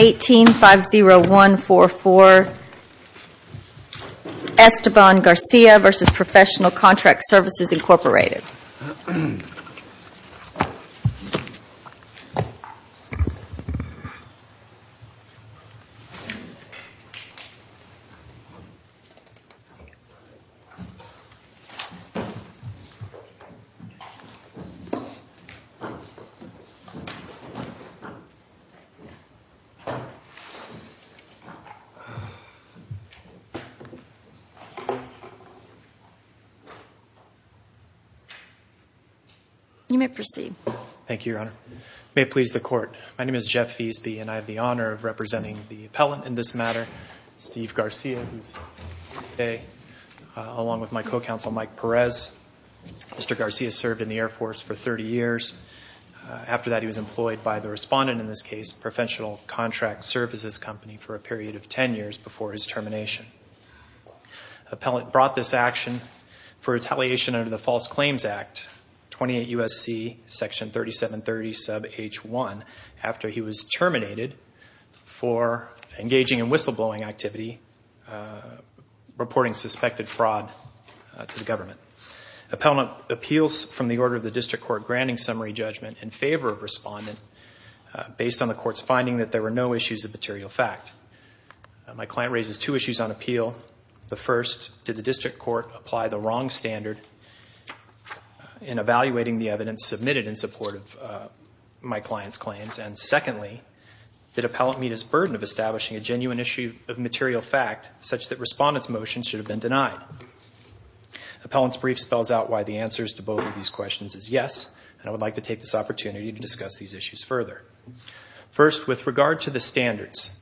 1850144 Esteban Garcia v. Professional Contract Svc Inc 1850144 Esteban Garcia v. Professional Contract Services Company for a period of 10 years before his termination. Appellant brought this action for retaliation under the False Claims Act 28 U.S.C. section 3730 sub h1 after he was terminated for engaging in whistle blowing activity reporting suspected fraud to the government. Appellant appeals from the order of the district court granting summary judgment in favor of issues of material fact. My client raises two issues on appeal. The first, did the district court apply the wrong standard in evaluating the evidence submitted in support of my client's claims? And secondly, did appellant meet his burden of establishing a genuine issue of material fact such that respondents motion should have been denied? Appellant's brief spells out why the answers to both of these questions is yes and I would like to take this opportunity to discuss these issues further. First, with regard to the standards,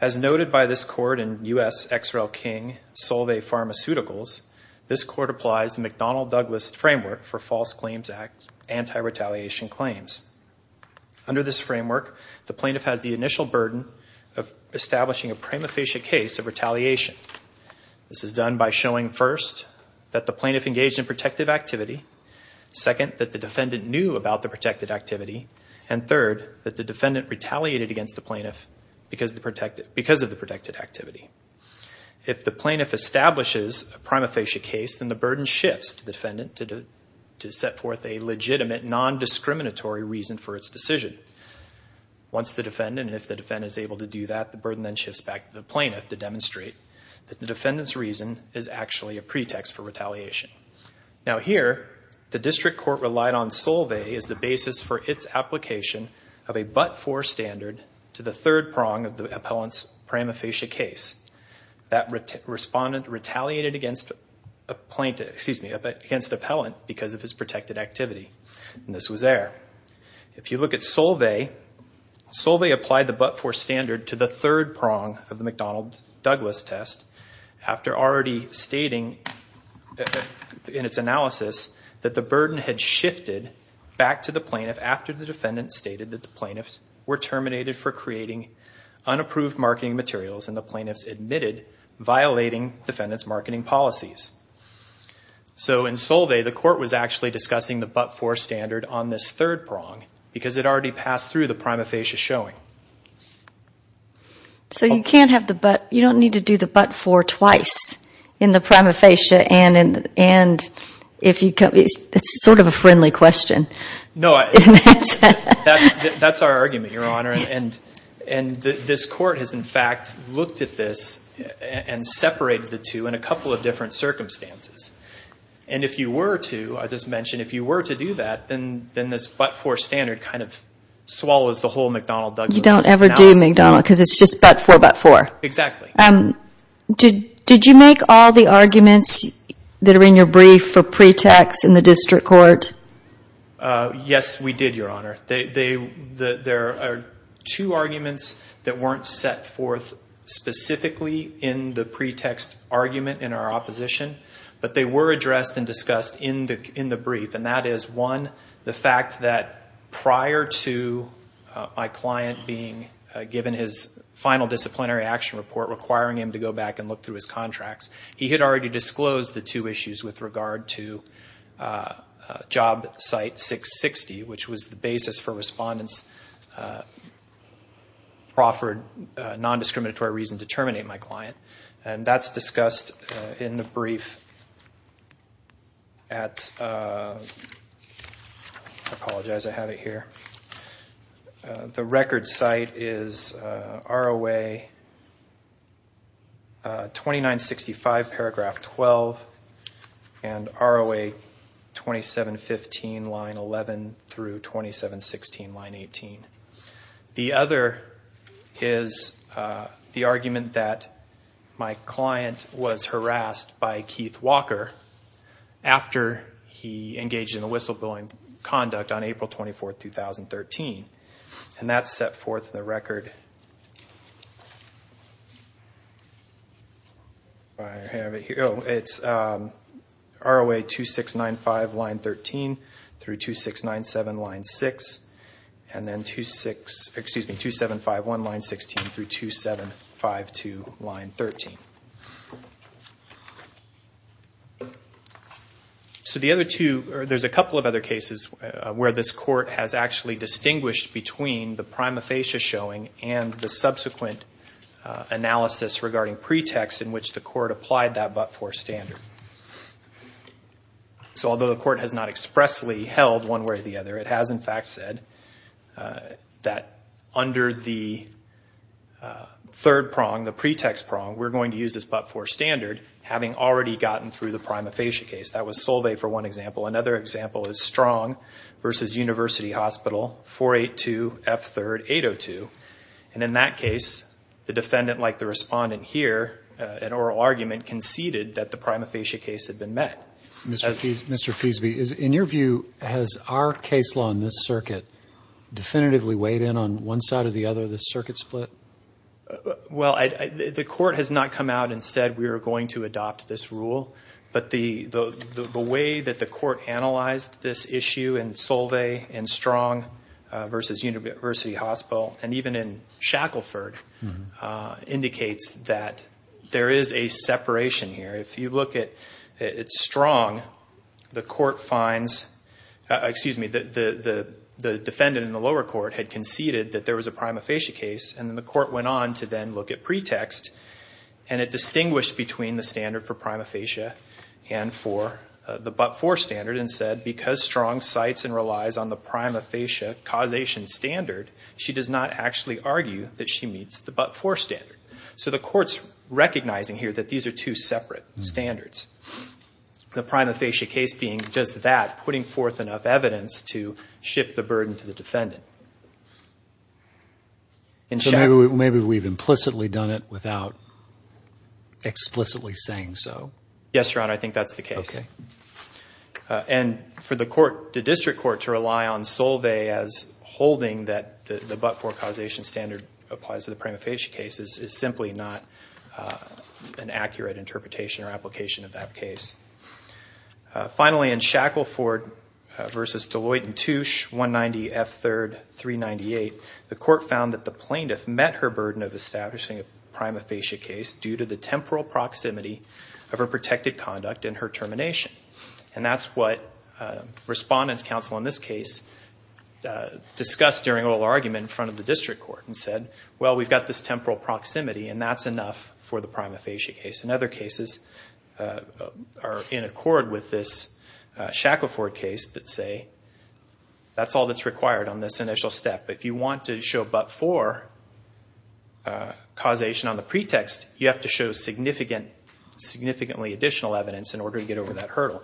as noted by this court in U.S. X. Rel. King Solve Pharmaceuticals, this court applies the McDonnell-Douglas framework for False Claims Act anti-retaliation claims. Under this framework, the plaintiff has the initial burden of establishing a prima facie case of retaliation. This is done by showing first, that the plaintiff engaged in protective activity. Second, that the defendant knew about the activity. And third, that the defendant retaliated against the plaintiff because of the protected activity. If the plaintiff establishes a prima facie case, then the burden shifts to the defendant to set forth a legitimate, non-discriminatory reason for its decision. Once the defendant, if the defendant is able to do that, the burden then shifts back to the plaintiff to demonstrate that the defendant's reason is actually a pretext for retaliation. Now here, the district court relied on Solve as the basis for its application of a but-for standard to the third prong of the appellant's prima facie case. That respondent retaliated against a plaintiff, excuse me, against the appellant because of his protected activity. And this was there. If you look at Solve, Solve applied the but-for standard to the third prong of the case. In its analysis, that the burden had shifted back to the plaintiff after the defendant stated that the plaintiffs were terminated for creating unapproved marketing materials, and the plaintiffs admitted violating the defendant's marketing policies. So in Solve, the court was actually discussing the but-for standard on this third prong because it already passed through the prima facie showing. So you don't need to do the but-for twice in the prima facie and if you can, it's sort of a friendly question. No, that's our argument, Your Honor, and this court has in fact looked at this and separated the two in a couple of different circumstances. And if you were to, I just mentioned, if you were to do that, then this but-for standard kind of swallows the whole McDonnell-Douglas. You don't ever do McDonnell because it's just but-for, but-for. Exactly. Did you make all the arguments that are in your brief for pretext in the district court? Yes, we did, Your Honor. There are two arguments that weren't set forth specifically in the pretext argument in our opposition, but they were addressed and discussed in the brief, and that is, one, the fact that prior to my client being given his final disciplinary action report requiring him to go back and look through his contracts, he had already disclosed the two issues with regard to job site 660, which was the basis for respondents' proffered nondiscriminatory reason to terminate my client. And that's discussed in the brief at, I apologize, I have it here. The record site is ROA 2965, paragraph 12, and ROA 2715, line 11 through 2716, line 18. The other is the argument that my client was harassed by Keith Walker after he engaged in a whistleblowing conduct on April 24, 2013, and that's set forth in the record. I have it here. It's ROA 2695, line 13 through 2697, line 6, and then 2751, line 16 through 2752, line 13. So the other two, there's a couple of other cases where this court has actually distinguished between the prima facie showing and the subsequent analysis regarding pretext in which the court applied that but-for standard. So although the court has not expressly held one way or the other, it has in fact said that under the third prong, the pretext prong, we're going to use this but-for standard, having already gotten through the prima facie case. That was Solvay for one example. Another example is Strong versus University Hospital, 482 F3rd 802. And in that case, the defendant, like the respondent here, an oral prima facie case had been met. Mr. Feasby, in your view, has our case law in this circuit definitively weighed in on one side or the other, this circuit split? Well, the court has not come out and said we are going to adopt this rule, but the way that the court analyzed this issue in Solvay and Strong versus University Hospital, and even in Shackleford, indicates that there is a strong, the defendant in the lower court had conceded that there was a prima facie case, and then the court went on to then look at pretext, and it distinguished between the standard for prima facie and for the but-for standard, and said because Strong cites and relies on the prima facie causation standard, she does not actually argue that she meets the but-for standard. So the court's two separate standards. The prima facie case being just that, putting forth enough evidence to shift the burden to the defendant. Maybe we've implicitly done it without explicitly saying so. Yes, Your Honor, I think that's the case. And for the court, the district court, to rely on Solvay as holding that the but-for causation standard applies to the accurate interpretation or application of that case. Finally, in Shackleford versus Deloitte and Touche, 190 F3rd 398, the court found that the plaintiff met her burden of establishing a prima facie case due to the temporal proximity of her protected conduct and her termination. And that's what Respondent's Counsel in this case discussed during oral argument in front of the district court and said, well, we've got this temporal proximity and that's enough for the prima facie case. And other cases are in accord with this Shackleford case that say that's all that's required on this initial step. If you want to show but-for causation on the pretext, you have to show significantly additional evidence in order to get over that hurdle.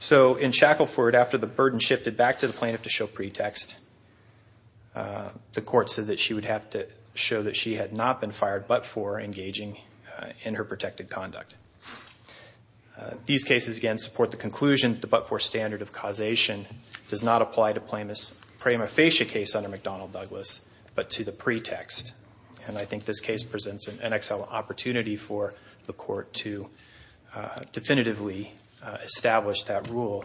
So in Shackleford, after the burden shifted back to the plaintiff to show pretext, the court said that she would have to show that she had not been fired but-for engaging in her protected conduct. These cases, again, support the conclusion the but-for standard of causation does not apply to a prima facie case under McDonnell Douglas, but to the pretext. And I think this case presents an excellent opportunity for the court to definitively establish that rule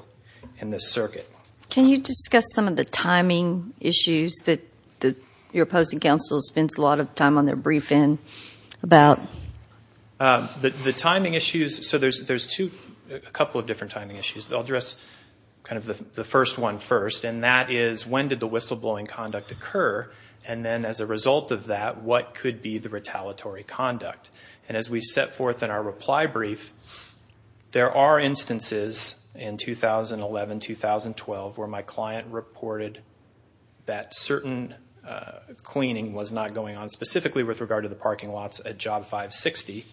in this circuit. Can you discuss some of the timing issues that you're opposed to? Council spends a lot of time on their briefing about. The timing issues, so there's two, a couple of different timing issues. I'll address kind of the first one first, and that is when did the whistleblowing conduct occur? And then as a result of that, what could be the retaliatory conduct? And as we've set forth in our reply brief, there are instances in 2011-2012 where my client reported that certain cleaning was not going on, specifically with regard to the parking lots at Job 560.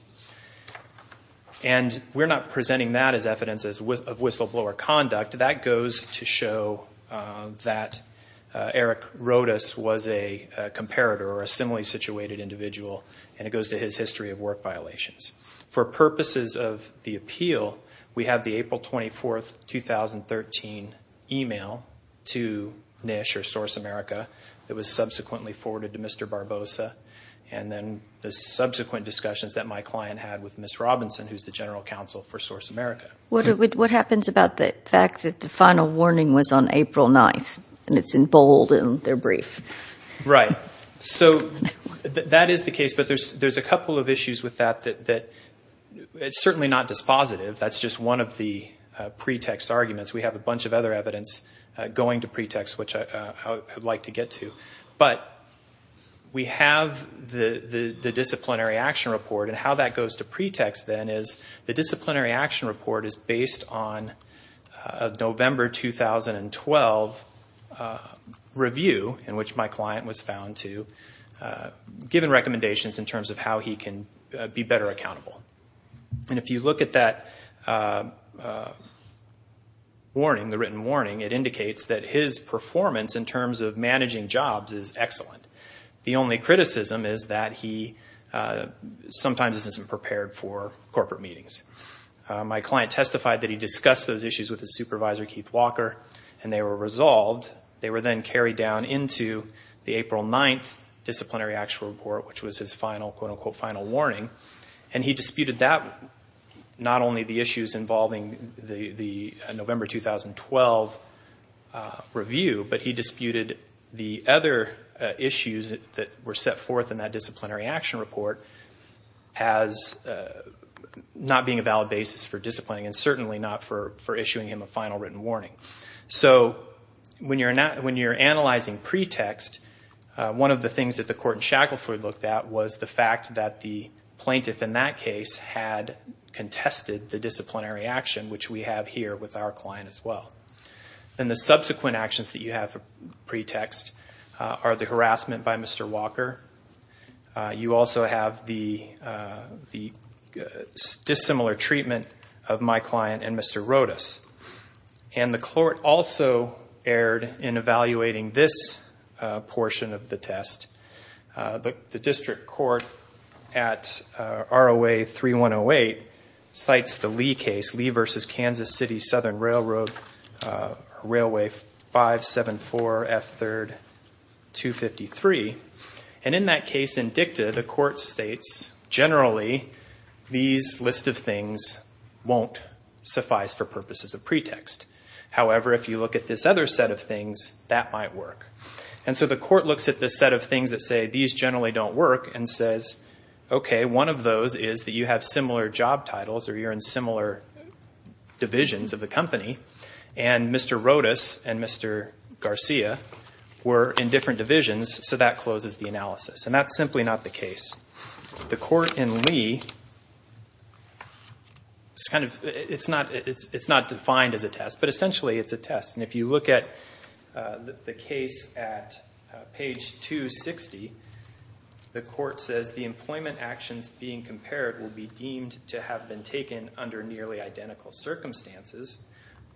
And we're not presenting that as evidence of whistleblower conduct. That goes to show that Eric Rodas was a comparator or a similarly situated individual, and it goes to his history of work violations. For purposes of the appeal, we have the April 24, 2013 email to NISH or Source America that was subsequently forwarded to Mr. Barbosa, and then the subsequent discussions that my client had with Ms. Robinson, who's the general counsel for Source America. What happens about the fact that the final warning was on April 9th, and it's in bold in their brief? Right. So that is the case, but there's a couple of issues with that that it's certainly not dispositive. That's just one of the pretext arguments. We have a bunch of other evidence going to pretext, which I would like to get to. But we have the disciplinary action report, and how that goes to pretext, then, is the my client was found to, given recommendations in terms of how he can be better accountable. And if you look at that warning, the written warning, it indicates that his performance in terms of managing jobs is excellent. The only criticism is that he sometimes isn't prepared for corporate meetings. My client testified that he discussed those issues with his supervisor, Keith Walker, and they were resolved. They were then carried down into the April 9th disciplinary action report, which was his final, quote-unquote, final warning. And he disputed that, not only the issues involving the November 2012 review, but he disputed the other issues that were set forth in that disciplinary action report as not being a valid basis for disciplining, and certainly not for disciplining. So when you're analyzing pretext, one of the things that the court in Shackleford looked at was the fact that the plaintiff in that case had contested the disciplinary action, which we have here with our client as well. And the subsequent actions that you have for pretext are the harassment by Mr. Walker. You also have the dissimilar treatment of my client and Mr. Rodas. And the court also erred in evaluating this portion of the test. The district court at ROA 3108 cites the Lee case, Lee versus Kansas City Southern Railroad, Railway 574 F3rd 253. And in that case, in dicta, the court states, generally, these list of things won't suffice for purposes of pretext. However, if you look at this other set of things, that might work. And so the court looks at this set of things that say, these generally don't work, and says, okay, one of those is that you have similar job titles or you're in similar divisions of the company, and Mr. Rodas and Mr. Garcia were in different divisions, so that closes the analysis. And that's simply not the case. The court in Lee, it's not defined as a test, but essentially it's a test. And if you look at the case at page 260, the court says, the employment actions being compared will be deemed to have been taken under nearly identical circumstances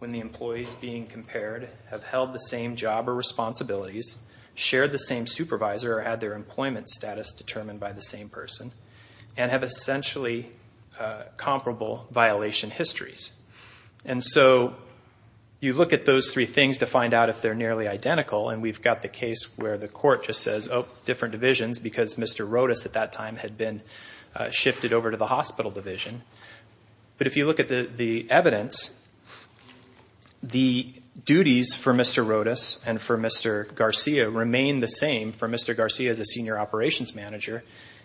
when the employees being compared have held the same job or responsibilities, shared the same supervisor, or had their employment status determined by the same person, and have essentially comparable violation histories. And so you look at those three things to find out if they're nearly identical, and we've got the case where the court just says, oh, different divisions, because Mr. Rodas at that time had been shifted over to the hospital division. But if you look at the evidence, the duties for Mr. Rodas and for Mr. Garcia remain the same for Mr. Garcia as a senior operations manager,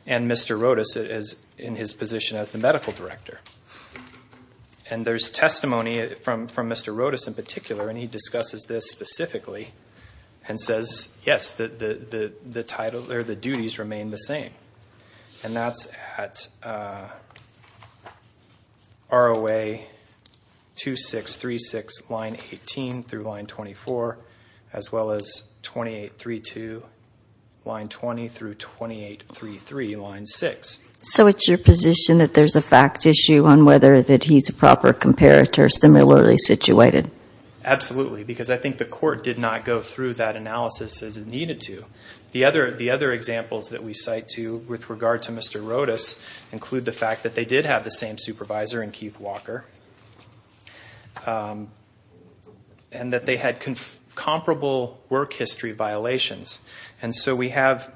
and Mr. Rodas is in his position as the medical director. And there's testimony from Mr. Rodas in particular, and he discusses this specifically and says, yes, the duties remain the same. And that's at ROA 2636, line 18 through line 24, as well as 2832, line 20 through 2833, line 6. So it's your position that there's a fact issue on whether that he's a proper comparator similarly situated? Absolutely, because I think the court did not go through that analysis as it needed to. The other examples that we cite to with regard to Mr. Rodas include the fact that they did have the same supervisor in Keith Walker, and that they had comparable work history violations. And so we have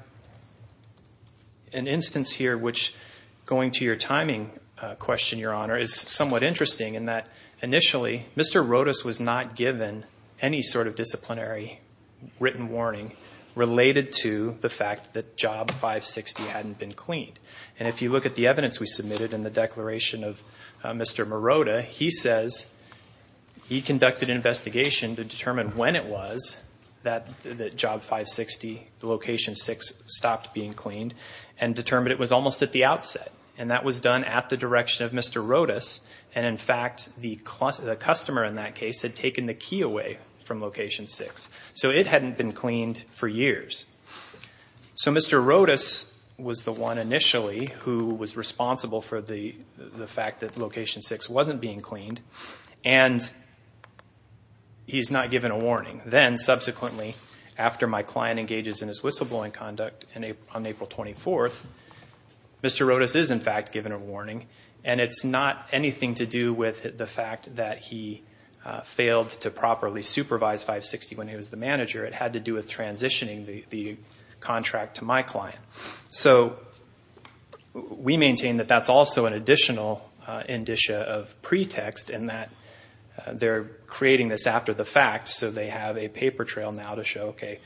an instance here which, going to your timing question, Your Honor, is somewhat interesting in that initially Mr. Rodas was not given any sort of disciplinary written warning related to the fact that job 560 hadn't been cleaned. And if you look at the evidence we submitted in the declaration of Mr. Morota, he says he conducted an investigation to determine when it was that job 560, location 6, stopped being cleaned, and determined it was almost at the outset. And that was done at the direction of Mr. Rodas, and in fact the customer in that case had taken the key away from location 6. So it hadn't been cleaned for years. So Mr. Rodas was the one initially who was responsible for the the fact that location 6 wasn't being cleaned, and he's not given a warning. Then subsequently after my client engages in his whistleblowing conduct on April 24th, Mr. Rodas is in fact given a warning, and it's not anything to do with the fact that he failed to properly supervise 560 when he was the manager. It had to do with transitioning the contract to my client. So we maintain that that's also an additional indicia of pretext in that they're creating this after the fact, so they have a paper trail now to show, okay,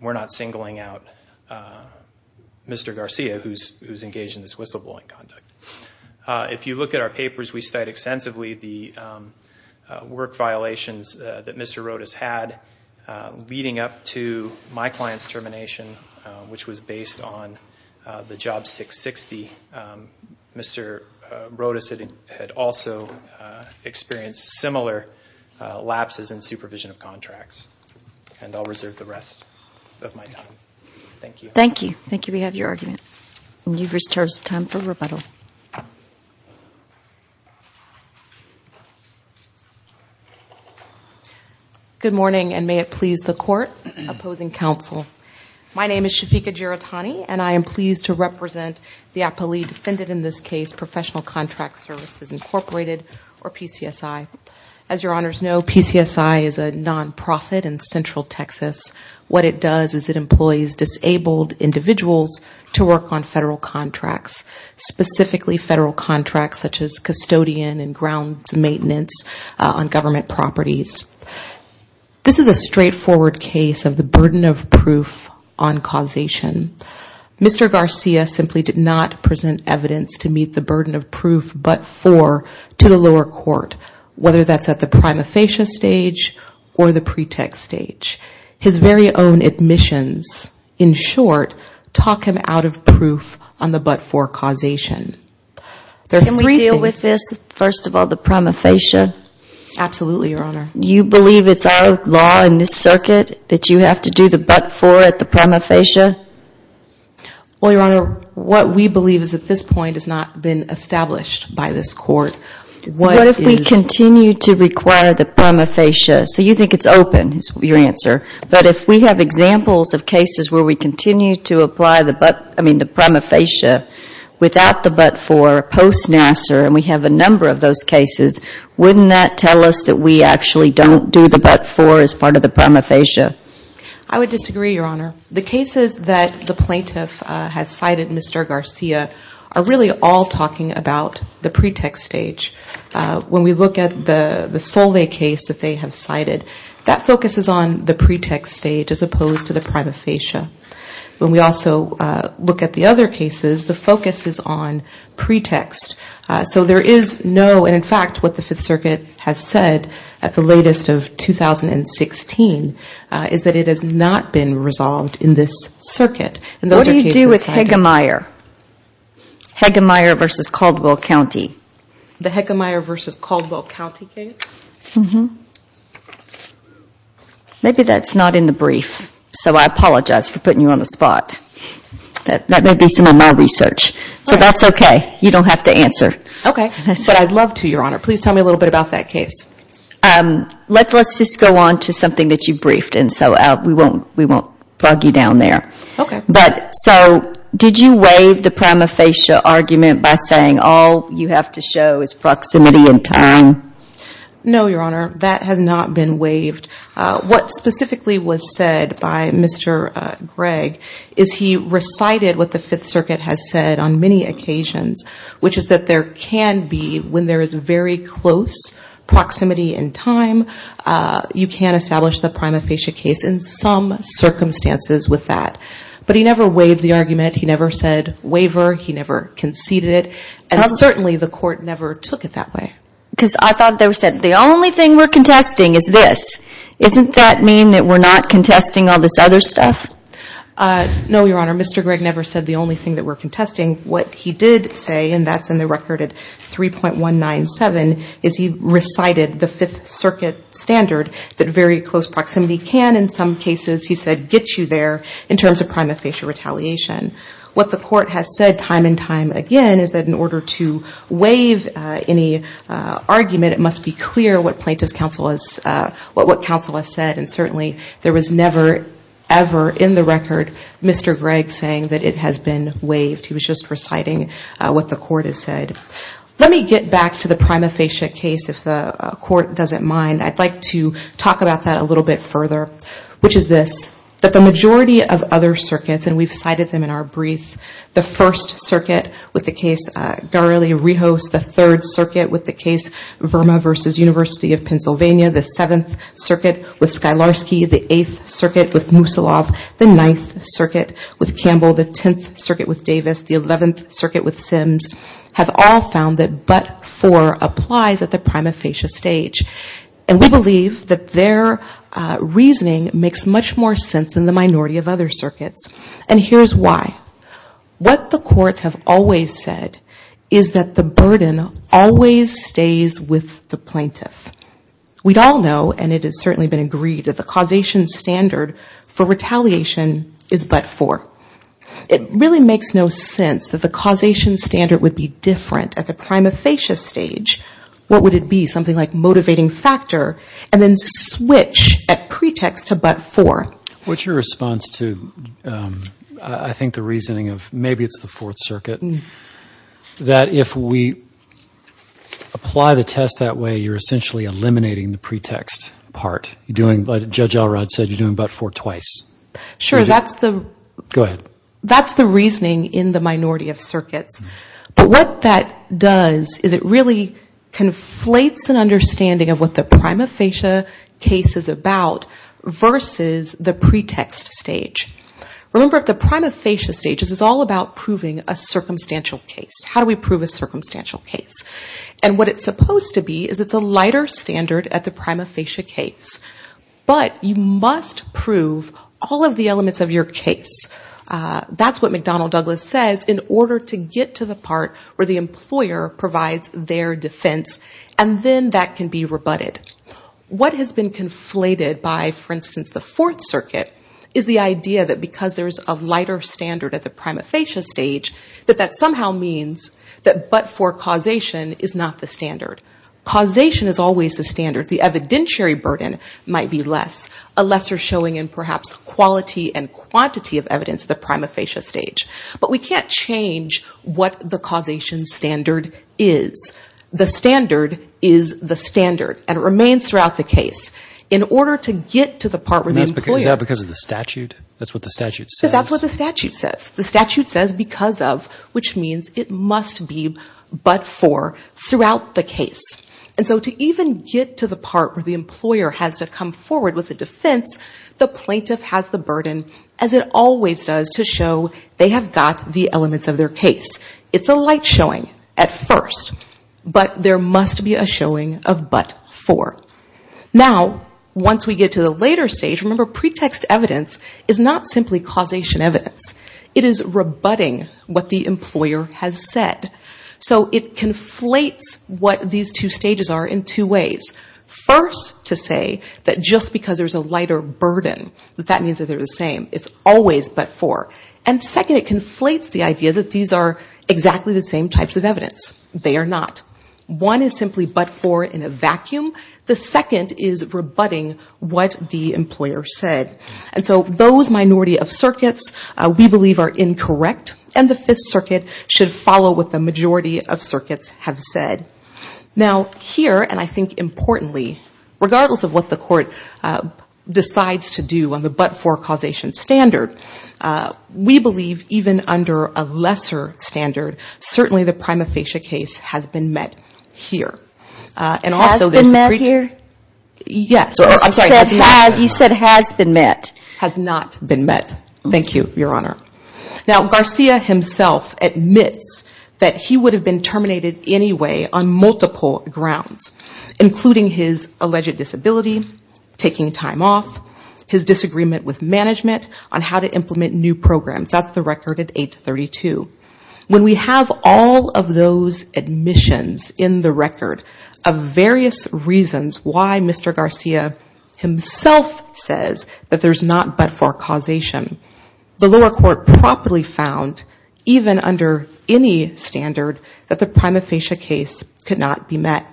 we're not singling out Mr. Garcia who's engaged in this whistleblowing conduct. If you look at our papers, we state extensively the work violations that Mr. Rodas had leading up to my client's termination, which was based on the job 660. Mr. Rodas had also experienced similar lapses in supervision of contracts. And I'll reserve the rest of my time. Thank you. Thank you. Thank you. We have your argument. And you've reached your time for rebuttal. Good morning, and may it please the court, opposing counsel. My name is Shafiqa Giratani, and I am pleased to represent the appellee defended in this case, Professional Contract Services Incorporated, or PCSI. As your honors know, PCSI is a nonprofit in Central Texas. What it does is it specifically federal contracts such as custodian and grounds maintenance on government properties. This is a straightforward case of the burden of proof on causation. Mr. Garcia simply did not present evidence to meet the burden of proof but for to the lower court, whether that's at the prima facie stage or the pretext stage. His very own admissions, in short, talk him out of proof on the but-for causation. Can we deal with this, first of all, the prima facie? Absolutely, your honor. You believe it's our law in this circuit that you have to do the but-for at the prima facie? Well, your honor, what we believe is at this point has not been established by this court. What if we continue to require the prima facie? So you think it's open, is your If we have examples of cases where we continue to apply the but, I mean the prima facie, without the but-for post Nassar, and we have a number of those cases, wouldn't that tell us that we actually don't do the but-for as part of the prima facie? I would disagree, your honor. The cases that the plaintiff has cited, Mr. Garcia, are really all talking about the pretext stage. When we look at the Solveig case that they have cited, that focuses on the pretext stage as opposed to the prima facie. When we also look at the other cases, the focus is on pretext. So there is no, and in fact what the Fifth Circuit has said at the latest of 2016, is that it has not been resolved in this circuit. What do you do with Hegemeyer? Hegemeyer v. Caldwell County. The Hegemeyer v. Caldwell County case? Maybe that's not in the brief. So I apologize for putting you on the spot. That may be some of my research. So that's okay. You don't have to answer. Okay. But I'd love to, your honor. Please tell me a little bit about that case. Let's just go on to something that you briefed, and so we won't plug you down there. Okay. But so did you waive the prima facie argument by saying all you have to show is proximity and time? No, your honor. That has not been waived. What specifically was said by Mr. Gregg is he recited what the Fifth Circuit has said on many occasions, which is that there can be, when there is very close proximity and time, you can never conceded it, and certainly the court never took it that way. Because I thought they said the only thing we're contesting is this. Isn't that mean that we're not contesting all this other stuff? No, your honor. Mr. Gregg never said the only thing that we're contesting. What he did say, and that's in the record at 3.197, is he recited the Fifth Circuit standard that very close proximity can, in some cases, he said, get you there in terms of prima facie retaliation. What the court has said time and time again is that in order to waive any argument, it must be clear what plaintiff's counsel has, what counsel has said, and certainly there was never, ever in the record Mr. Gregg saying that it has been waived. He was just reciting what the court has said. Let me get back to the prima facie case, if the court doesn't mind. I'd like to talk about that a little bit further, which is this, that the majority of other circuits, and we've cited them in our brief, the First Circuit with the case Garelli-Rios, the Third Circuit with the case Verma v. University of Pennsylvania, the Seventh Circuit with Skylarsky, the Eighth Circuit with Musilov, the Ninth Circuit with Campbell, the Tenth Circuit with Davis, the Eleventh Circuit with Sims, have all found that but for applies at the plaintiff, we believe that their reasoning makes much more sense than the minority of other circuits, and here's why. What the courts have always said is that the burden always stays with the plaintiff. We'd all know, and it has certainly been agreed, that the causation standard for retaliation is but for. It really makes no sense that the causation standard would be different at the prima facie stage. What would it be? Something like motivating factor, and then switch at pretext to but for. What's your response to, I think the reasoning of, maybe it's the Fourth Circuit, that if we apply the test that way, you're essentially eliminating the pretext part? You're doing, like Judge Alrod said, you're doing but for twice. Sure, that's the... Go ahead. But what that does is it really conflates an understanding of what the prima facie case is about versus the pretext stage. Remember, at the prima facie stage, this is all about proving a circumstantial case. How do we prove a circumstantial case? And what it's supposed to be is it's a lighter standard at the prima facie case, but you must prove all of the elements of your case. That's what McDonnell Douglas says in order to get to the part where the employer provides their defense, and then that can be rebutted. What has been conflated by, for instance, the Fourth Circuit is the idea that because there's a lighter standard at the prima facie stage, that that somehow means that but for causation is not the standard. Causation is always the standard. The evidentiary burden might be less. A lesser showing in perhaps quality and quantity of evidence at the prima facie stage. But we can't change what the causation standard is. The standard is the standard, and it remains throughout the case. In order to get to the part where the employer... Is that because of the statute? That's what the statute says? Because that's what the statute says. The statute says because of, which means it must be but for, throughout the case. And so to even get to the part where the employer provides their defense, the plaintiff has the burden as it always does to show they have got the elements of their case. It's a light showing at first, but there must be a showing of but for. Now, once we get to the later stage, remember pretext evidence is not simply causation evidence. It is rebutting what the employer has said. So it conflates what these two stages are in two ways. First, to say that just because there's a lighter burden, that that means that they're the same. It's always but for. And second, it conflates the idea that these are exactly the same types of evidence. They are not. One is simply but for in a vacuum. The second is rebutting what the employer said. And so those minority of circuits we believe are incorrect, and the Fifth Circuit should follow what the majority of circuits have said. Now, here, and I think importantly, regardless of what the court decides to do on the but for causation standard, we believe even under a lesser standard, certainly the prima facie case has been met here. Has been met here? Yes. You said has been met. Has not been met. Thank you, Your Honor. Now, Garcia himself admits that he would have been terminated anyway on multiple grounds, including his alleged disability, taking time off, his disagreement with management on how to implement new programs. That's the record at 832. When we have all of those admissions in the record of various reasons why Mr. Garcia himself says that there's not but for causation, the lower court properly found even under any standard that the prima facie case could not be met.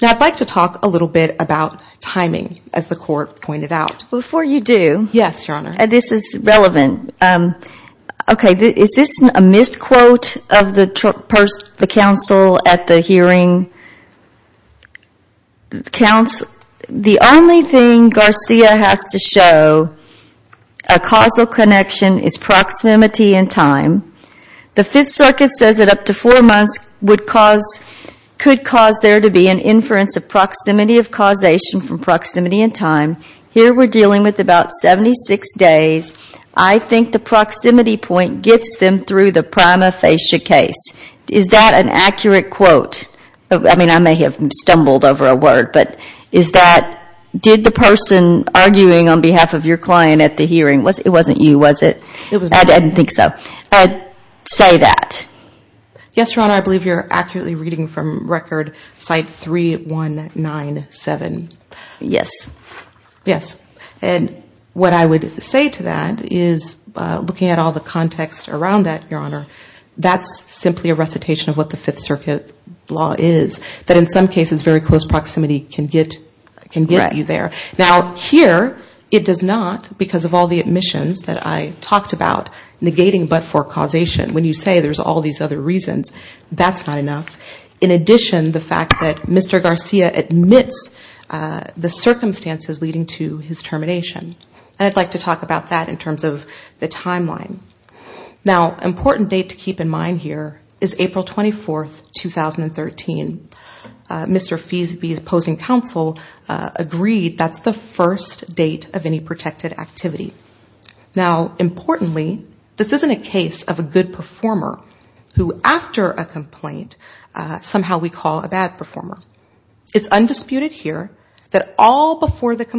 Now, I'd like to talk a little bit about timing as the court pointed out. Before you do. Yes, Your Honor. This is relevant. Okay. Is this a misquote of the counsel at the hearing? The only thing Garcia has to show a causal connection is proximity and time. The Fifth Circuit says that up to four months could cause there to be an inference of proximity of causation from proximity and time. Here we're dealing with about 76 days. I think the proximity point gets them through the hearing. Did the person arguing on behalf of your client at the hearing, it wasn't you, was it? I didn't think so. Say that. Yes, Your Honor. I believe you're accurately reading from record site 3197. Yes. Yes. And what I would say to that is looking at all the context around that, that's simply a recitation of what the Fifth Circuit law is. That in some cases very close proximity can get you there. Now, here it does not because of all the admissions that I talked about negating but for causation. When you say there's all these other reasons, that's not enough. In addition, the fact that Mr. Garcia admits the circumstances leading to his termination. And I'd like to talk about that in terms of the timeline. Now, an important date to keep in mind here is April 24, 2013. Mr. Feasby's opposing counsel agreed that's the first date of any protected activity. Now, importantly, this isn't a case of a good performer who after a complaint somehow we call a bad performer. It's undisputed here that all before the first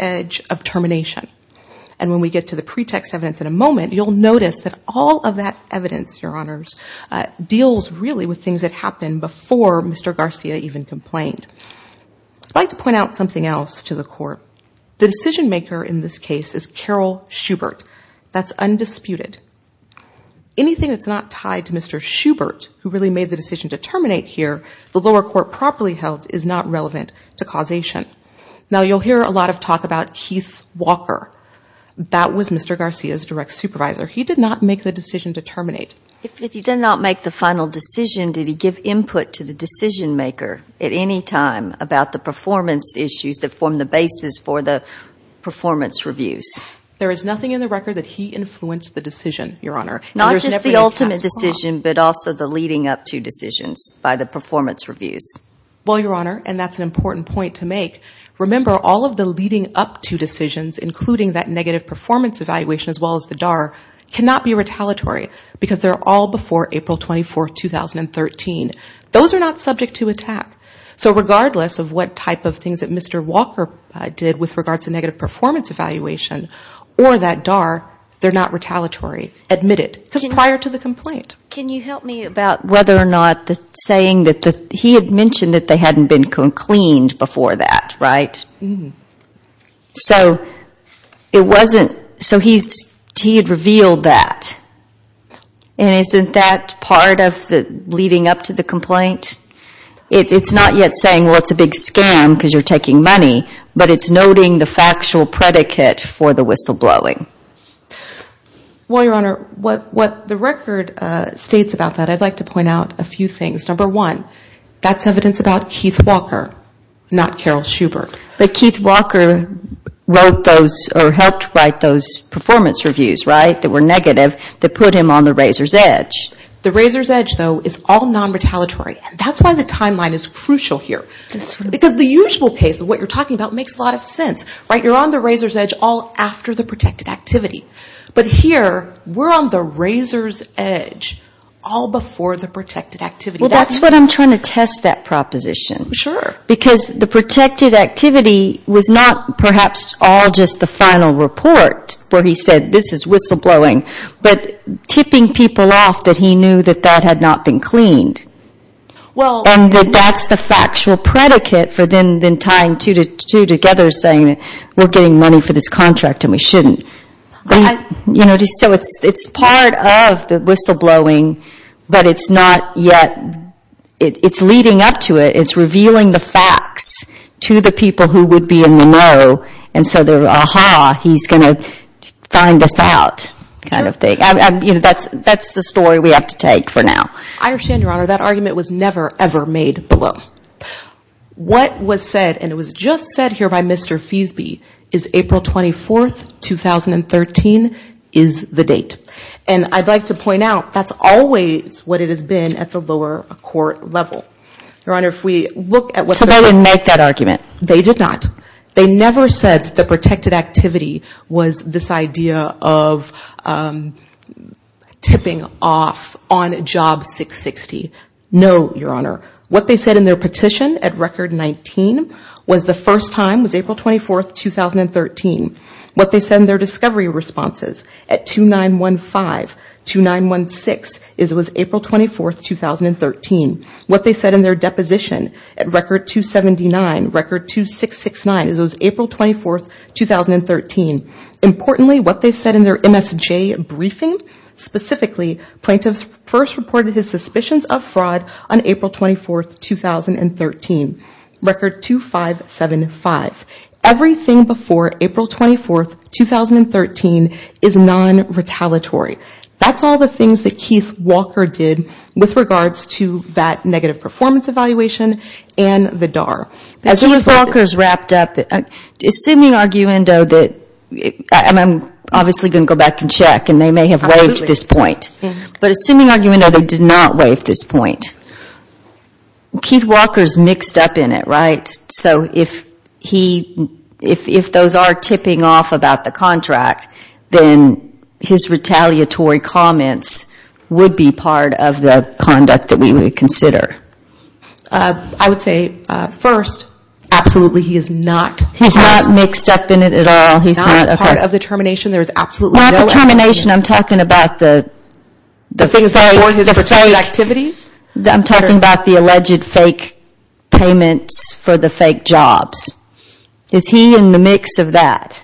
edge of termination. And when we get to the pretext evidence in a moment, you'll notice that all of that evidence, Your Honors, deals really with things that happened before Mr. Garcia even complained. I'd like to point out something else to the Court. The decision maker in this case is Carol Schubert. That's undisputed. Anything that's not tied to Mr. Schubert who really made the decision about Keith Walker, that was Mr. Garcia's direct supervisor. He did not make the decision to terminate. If he did not make the final decision, did he give input to the decision maker at any time about the performance issues that form the basis for the performance reviews? There is nothing in the record that he influenced the decision, Your Honor. Not just the ultimate decision, but also the leading up to decisions by the performance reviews. Well, Your Honor, and that's an important point to make, remember all of the leading up to decisions, including that negative performance evaluation as well as the DAR, cannot be retaliatory because they're all before April 24, 2013. Those are not subject to attack. So regardless of what type of things that Mr. Walker did with regards to negative performance evaluation or that DAR, they're not retaliatory, admitted, because prior to the complaint. Can you help me about whether or not the saying that he had mentioned that they hadn't been cleaned before that, right? So it wasn't, so he had revealed that. And isn't that part of leading up to the complaint? It's not yet saying, well, it's a big scam because you're taking money, but it's noting the factual predicate for the whistleblowing. Well, Your Honor, what the record states about that, I'd like to point out a few things. Number one, that's evidence about Keith Walker, not Carol Schubert. But Keith Walker wrote those or helped write those performance reviews, right, that were negative, that put him on the razor's edge. The razor's edge, though, is all non-retaliatory. That's why the timeline is crucial here. You're on the razor's edge all after the protected activity. But here, we're on the razor's edge all before the protected activity. Well, that's what I'm trying to test that proposition. Because the protected activity was not perhaps all just the final report where he said, this is whistleblowing, but tipping people off that he knew that that had not been cleaned. And that that's the factual predicate for then tying two together saying that we're getting money for this contract and we shouldn't. So it's part of the whistleblowing, but it's not yet, it's leading up to it. It's revealing the facts to the people who would be in the know. And so they're, aha, he's going to find us out kind of thing. That's the story we have to take for now. I understand, Your Honor, that argument was never, ever made below. What was said, and it was just said here by Mr. Feasby, is April 24th, 2013, is the date. And I'd like to point out, that's always what it has been at the lower court level. Your Honor, if we look at what the court said. So they didn't make that argument? They did not. They never said that the protected activity was this idea of tipping off on Job 660. No, Your Honor. What they said in their petition at Record 19 was the first time, was April 24th, 2013. What they said in their discovery responses at 2915, 2916, was April 24th, 2013. What they said in their deposition at Record 279, Record 2669, was April 24th, 2013. Importantly, what they said in their MSJ briefing, specifically, plaintiffs first reported his suspicions of fraud on April 24th, 2013, Record 2575. Everything before April 24th, 2013, is non-retaliatory. That's all the things that Keith Walker did with regards to that negative performance evaluation and the DAR. Keith Walker's wrapped up. Assuming arguendo that, and I'm obviously going to go back and check, and they may have waived this point. But assuming arguendo they did not waive this point, Keith Walker's mixed up in it, right? So if those are tipping off about the contract, then his retaliatory comments would be part of the conduct that we would consider. I would say, first, absolutely he is not. He's not mixed up in it at all? He's not part of the termination? There's absolutely no activity? By termination, I'm talking about the things before his retaliatory activity? I'm talking about the alleged fake payments for the fake jobs. Is he in the mix of that?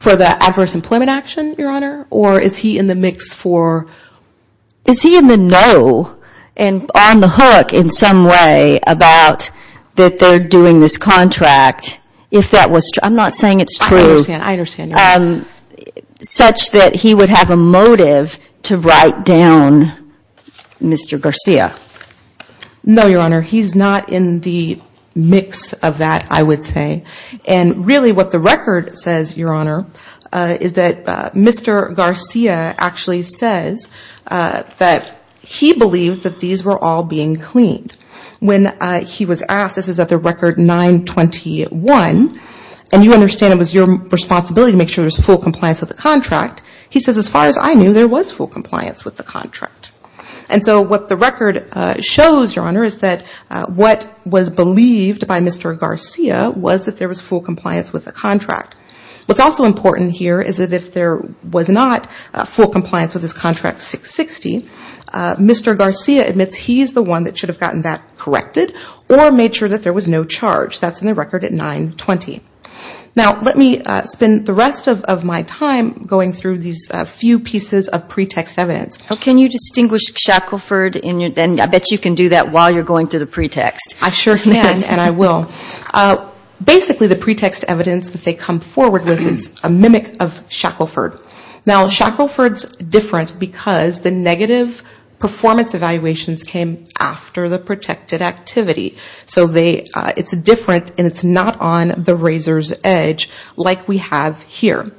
For the adverse employment action, Your Honor? Or is he in the mix for? Is he in the know and on the hook in some way about that they're doing this contract? I'm not saying it's true. I understand. Such that he would have a motive to write down Mr. Garcia? No, Your Honor. He's not in the mix of that, I would say. And really what the record says, Your Honor, is that Mr. Garcia actually says that he believed that these were all being cleaned. When he was asked, this is at the record 9-21, and you understand it was your responsibility to make sure there was full compliance with the contract. He says, as far as I knew, there was full compliance with the contract. And so what the record shows, Your Honor, is that what was believed by Mr. Garcia was that there was full compliance with the contract. What's also important here is that if there was not full compliance with his contract 6-60, Mr. Garcia admits he's the one that should have gotten that corrected or made sure that there was no charge. That's in the record at 9-20. Now let me spend the rest of my time going through these few pieces of pretext evidence. Can you distinguish Shackelford? I bet you can do that while you're going through the pretext. I sure can, and I will. Basically the pretext evidence that they come forward with is a mimic of Shackelford. Now Shackelford's different because the negative performance evaluations came after the protected activity. So it's different and it's not on the razor's edge like we have here.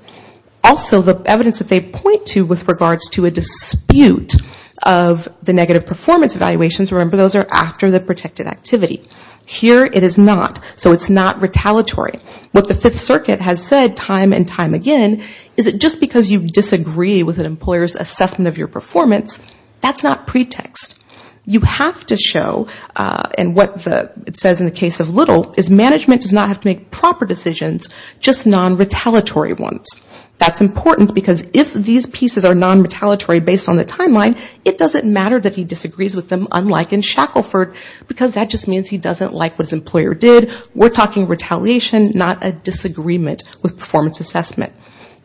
Also the evidence that they point to with regards to a dispute of the negative performance evaluations, remember those are after the protected activity. Here it is not. So it's not retaliatory. What the Fifth Circuit has said time and time again is that just because you disagree with an employer's assessment of your performance, that's not pretext. You have to show, and what it says in the case of Little is management does not have to make proper decisions, just non-retaliatory ones. That's important because if these pieces are non-retaliatory based on the timeline, it doesn't matter that he disagrees with them, unlike in Shackelford, because that just means he doesn't like what his employer did. We're talking retaliation, not a disagreement with performance assessment.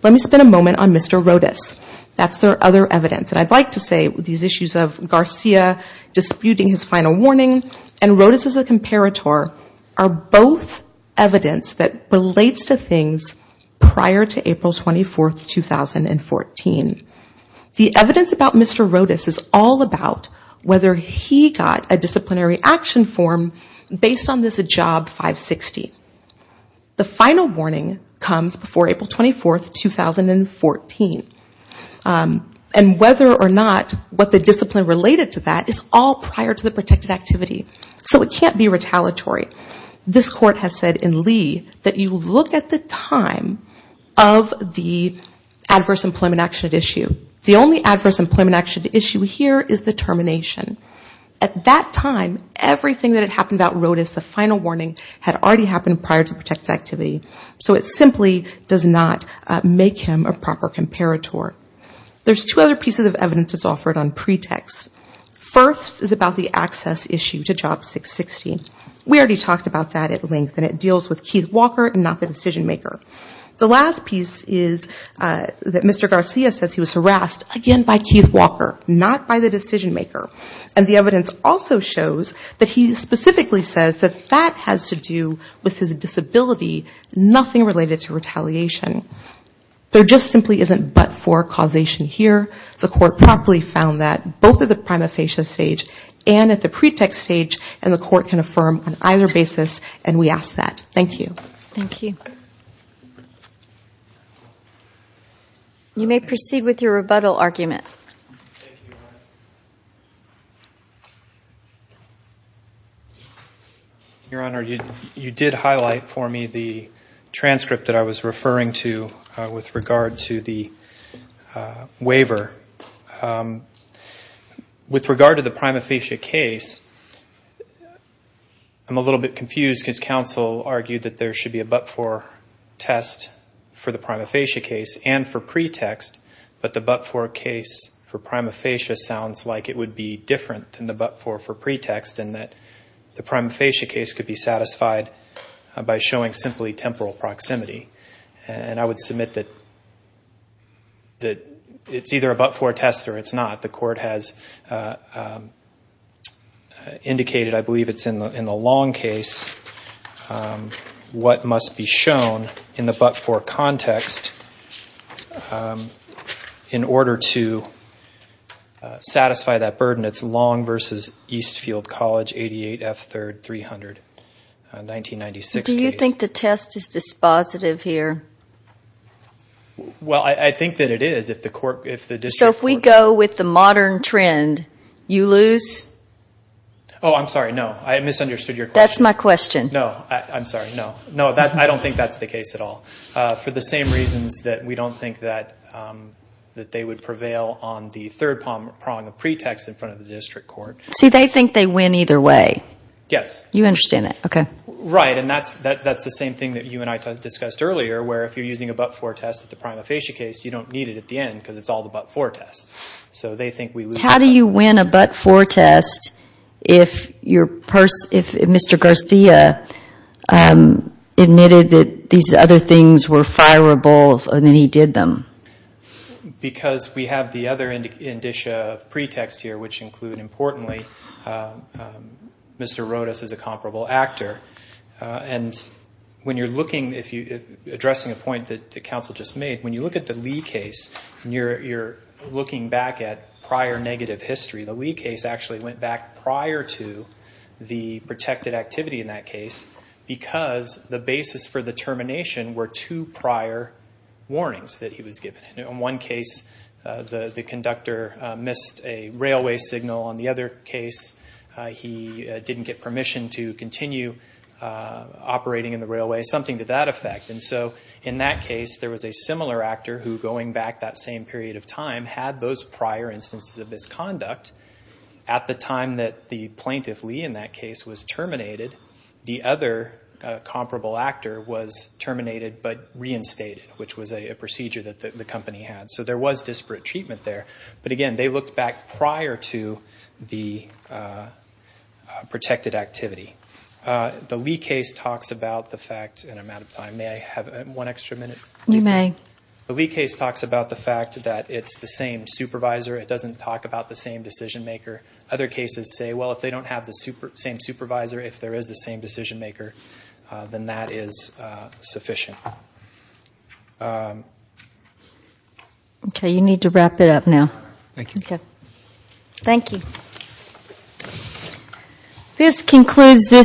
Let me spend a moment on Mr. Rodas. That's their other evidence. And I'd like to say these issues of Garcia disputing his final warning and Rodas as a comparator are both evidence that relates to things prior to April 24, 2014. The evidence about Mr. Rodas is all about whether he got a disciplinary action form based on this job 560. The final warning comes before April 24, 2014. And whether or not what the discipline related to that is all prior to the protected activity. So it can't be retaliatory. This court has said in Lee that you look at the time of the adverse employment action at issue. The only adverse employment action at issue here is the termination. At that time, everything that had happened about Rodas, the final warning had already happened prior to protected activity. So it simply does not make him a proper comparator. There's two other pieces of evidence that's offered on pretext. First is about the access issue to job 660. We already talked about that at length. And it deals with Keith Walker and not the decision maker. The last piece is that Mr. Garcia says he was harassed again by Keith Walker, not by the decision maker. And the evidence also shows that he specifically says that that has to do with his disability, nothing related to retaliation. There just simply isn't but-for causation here. The court promptly found that both at the prima facie stage and at the pretext stage. And the court can affirm on either basis. And we ask that. Thank you. Thank you. You may proceed with your rebuttal argument. Thank you. Your Honor, you did highlight for me the transcript that I was referring to with regard to the waiver. With regard to the prima facie case, I'm a little bit confused because counsel argued that there should be a but-for test for the prima facie case and for pretext. But the but-for case for prima facie sounds like it would be different than the but-for for pretext in that the prima facie case could be satisfied by showing simply temporal proximity. And I would submit that it's either a but-for test or it's not. The court has indicated, I believe it's in the long case, what must be in order to satisfy that burden. It's long versus Eastfield College, 88F 3rd, 300, 1996 case. Do you think the test is dispositive here? Well, I think that it is. So if we go with the modern trend, you lose? Oh, I'm sorry, no. I misunderstood your question. That's my question. No, I'm sorry, no. No, I don't think that's the case at all. For the same reasons that we don't think that they would prevail on the third prong of pretext in front of the district court. See, they think they win either way. Yes. You understand that, okay. Right, and that's the same thing that you and I discussed earlier, where if you're using a but-for test at the prima facie case, you don't need it at the end because it's all the but-for test. So they think we lose. How do you win a but-for test if Mr. Garcia admitted that these other things were fireable and then he did them? Because we have the other indicia of pretext here, which include, importantly, Mr. Rodas is a comparable actor. And when you're looking, if you're addressing a point that the counsel just made, when you look at the Lee case and you're looking back at prior negative history, the Lee case actually went back prior to the protected activity in that case because the basis for the termination were two prior warnings that he was given. In one case, the conductor missed a railway signal. On the other case, he didn't get permission to continue operating in the railway. Something to that effect. And so in that case, there was a similar actor who, going back that same period of time, had those prior instances of misconduct. At the time that the plaintiff, Lee, in that case was terminated, the other comparable actor was terminated but reinstated, which was a procedure that the company had. So there was disparate treatment there. But again, they looked back prior to the protected activity. The Lee case talks about the fact, and I'm out of time, may I have one extra minute? You may. The Lee case talks about the fact that it's the same supervisor. It doesn't talk about the same decision maker. Other cases say, well, if they don't have the same supervisor, if there is the same decision maker, then that is sufficient. Okay, you need to wrap it up now. Thank you. Okay. Thank you.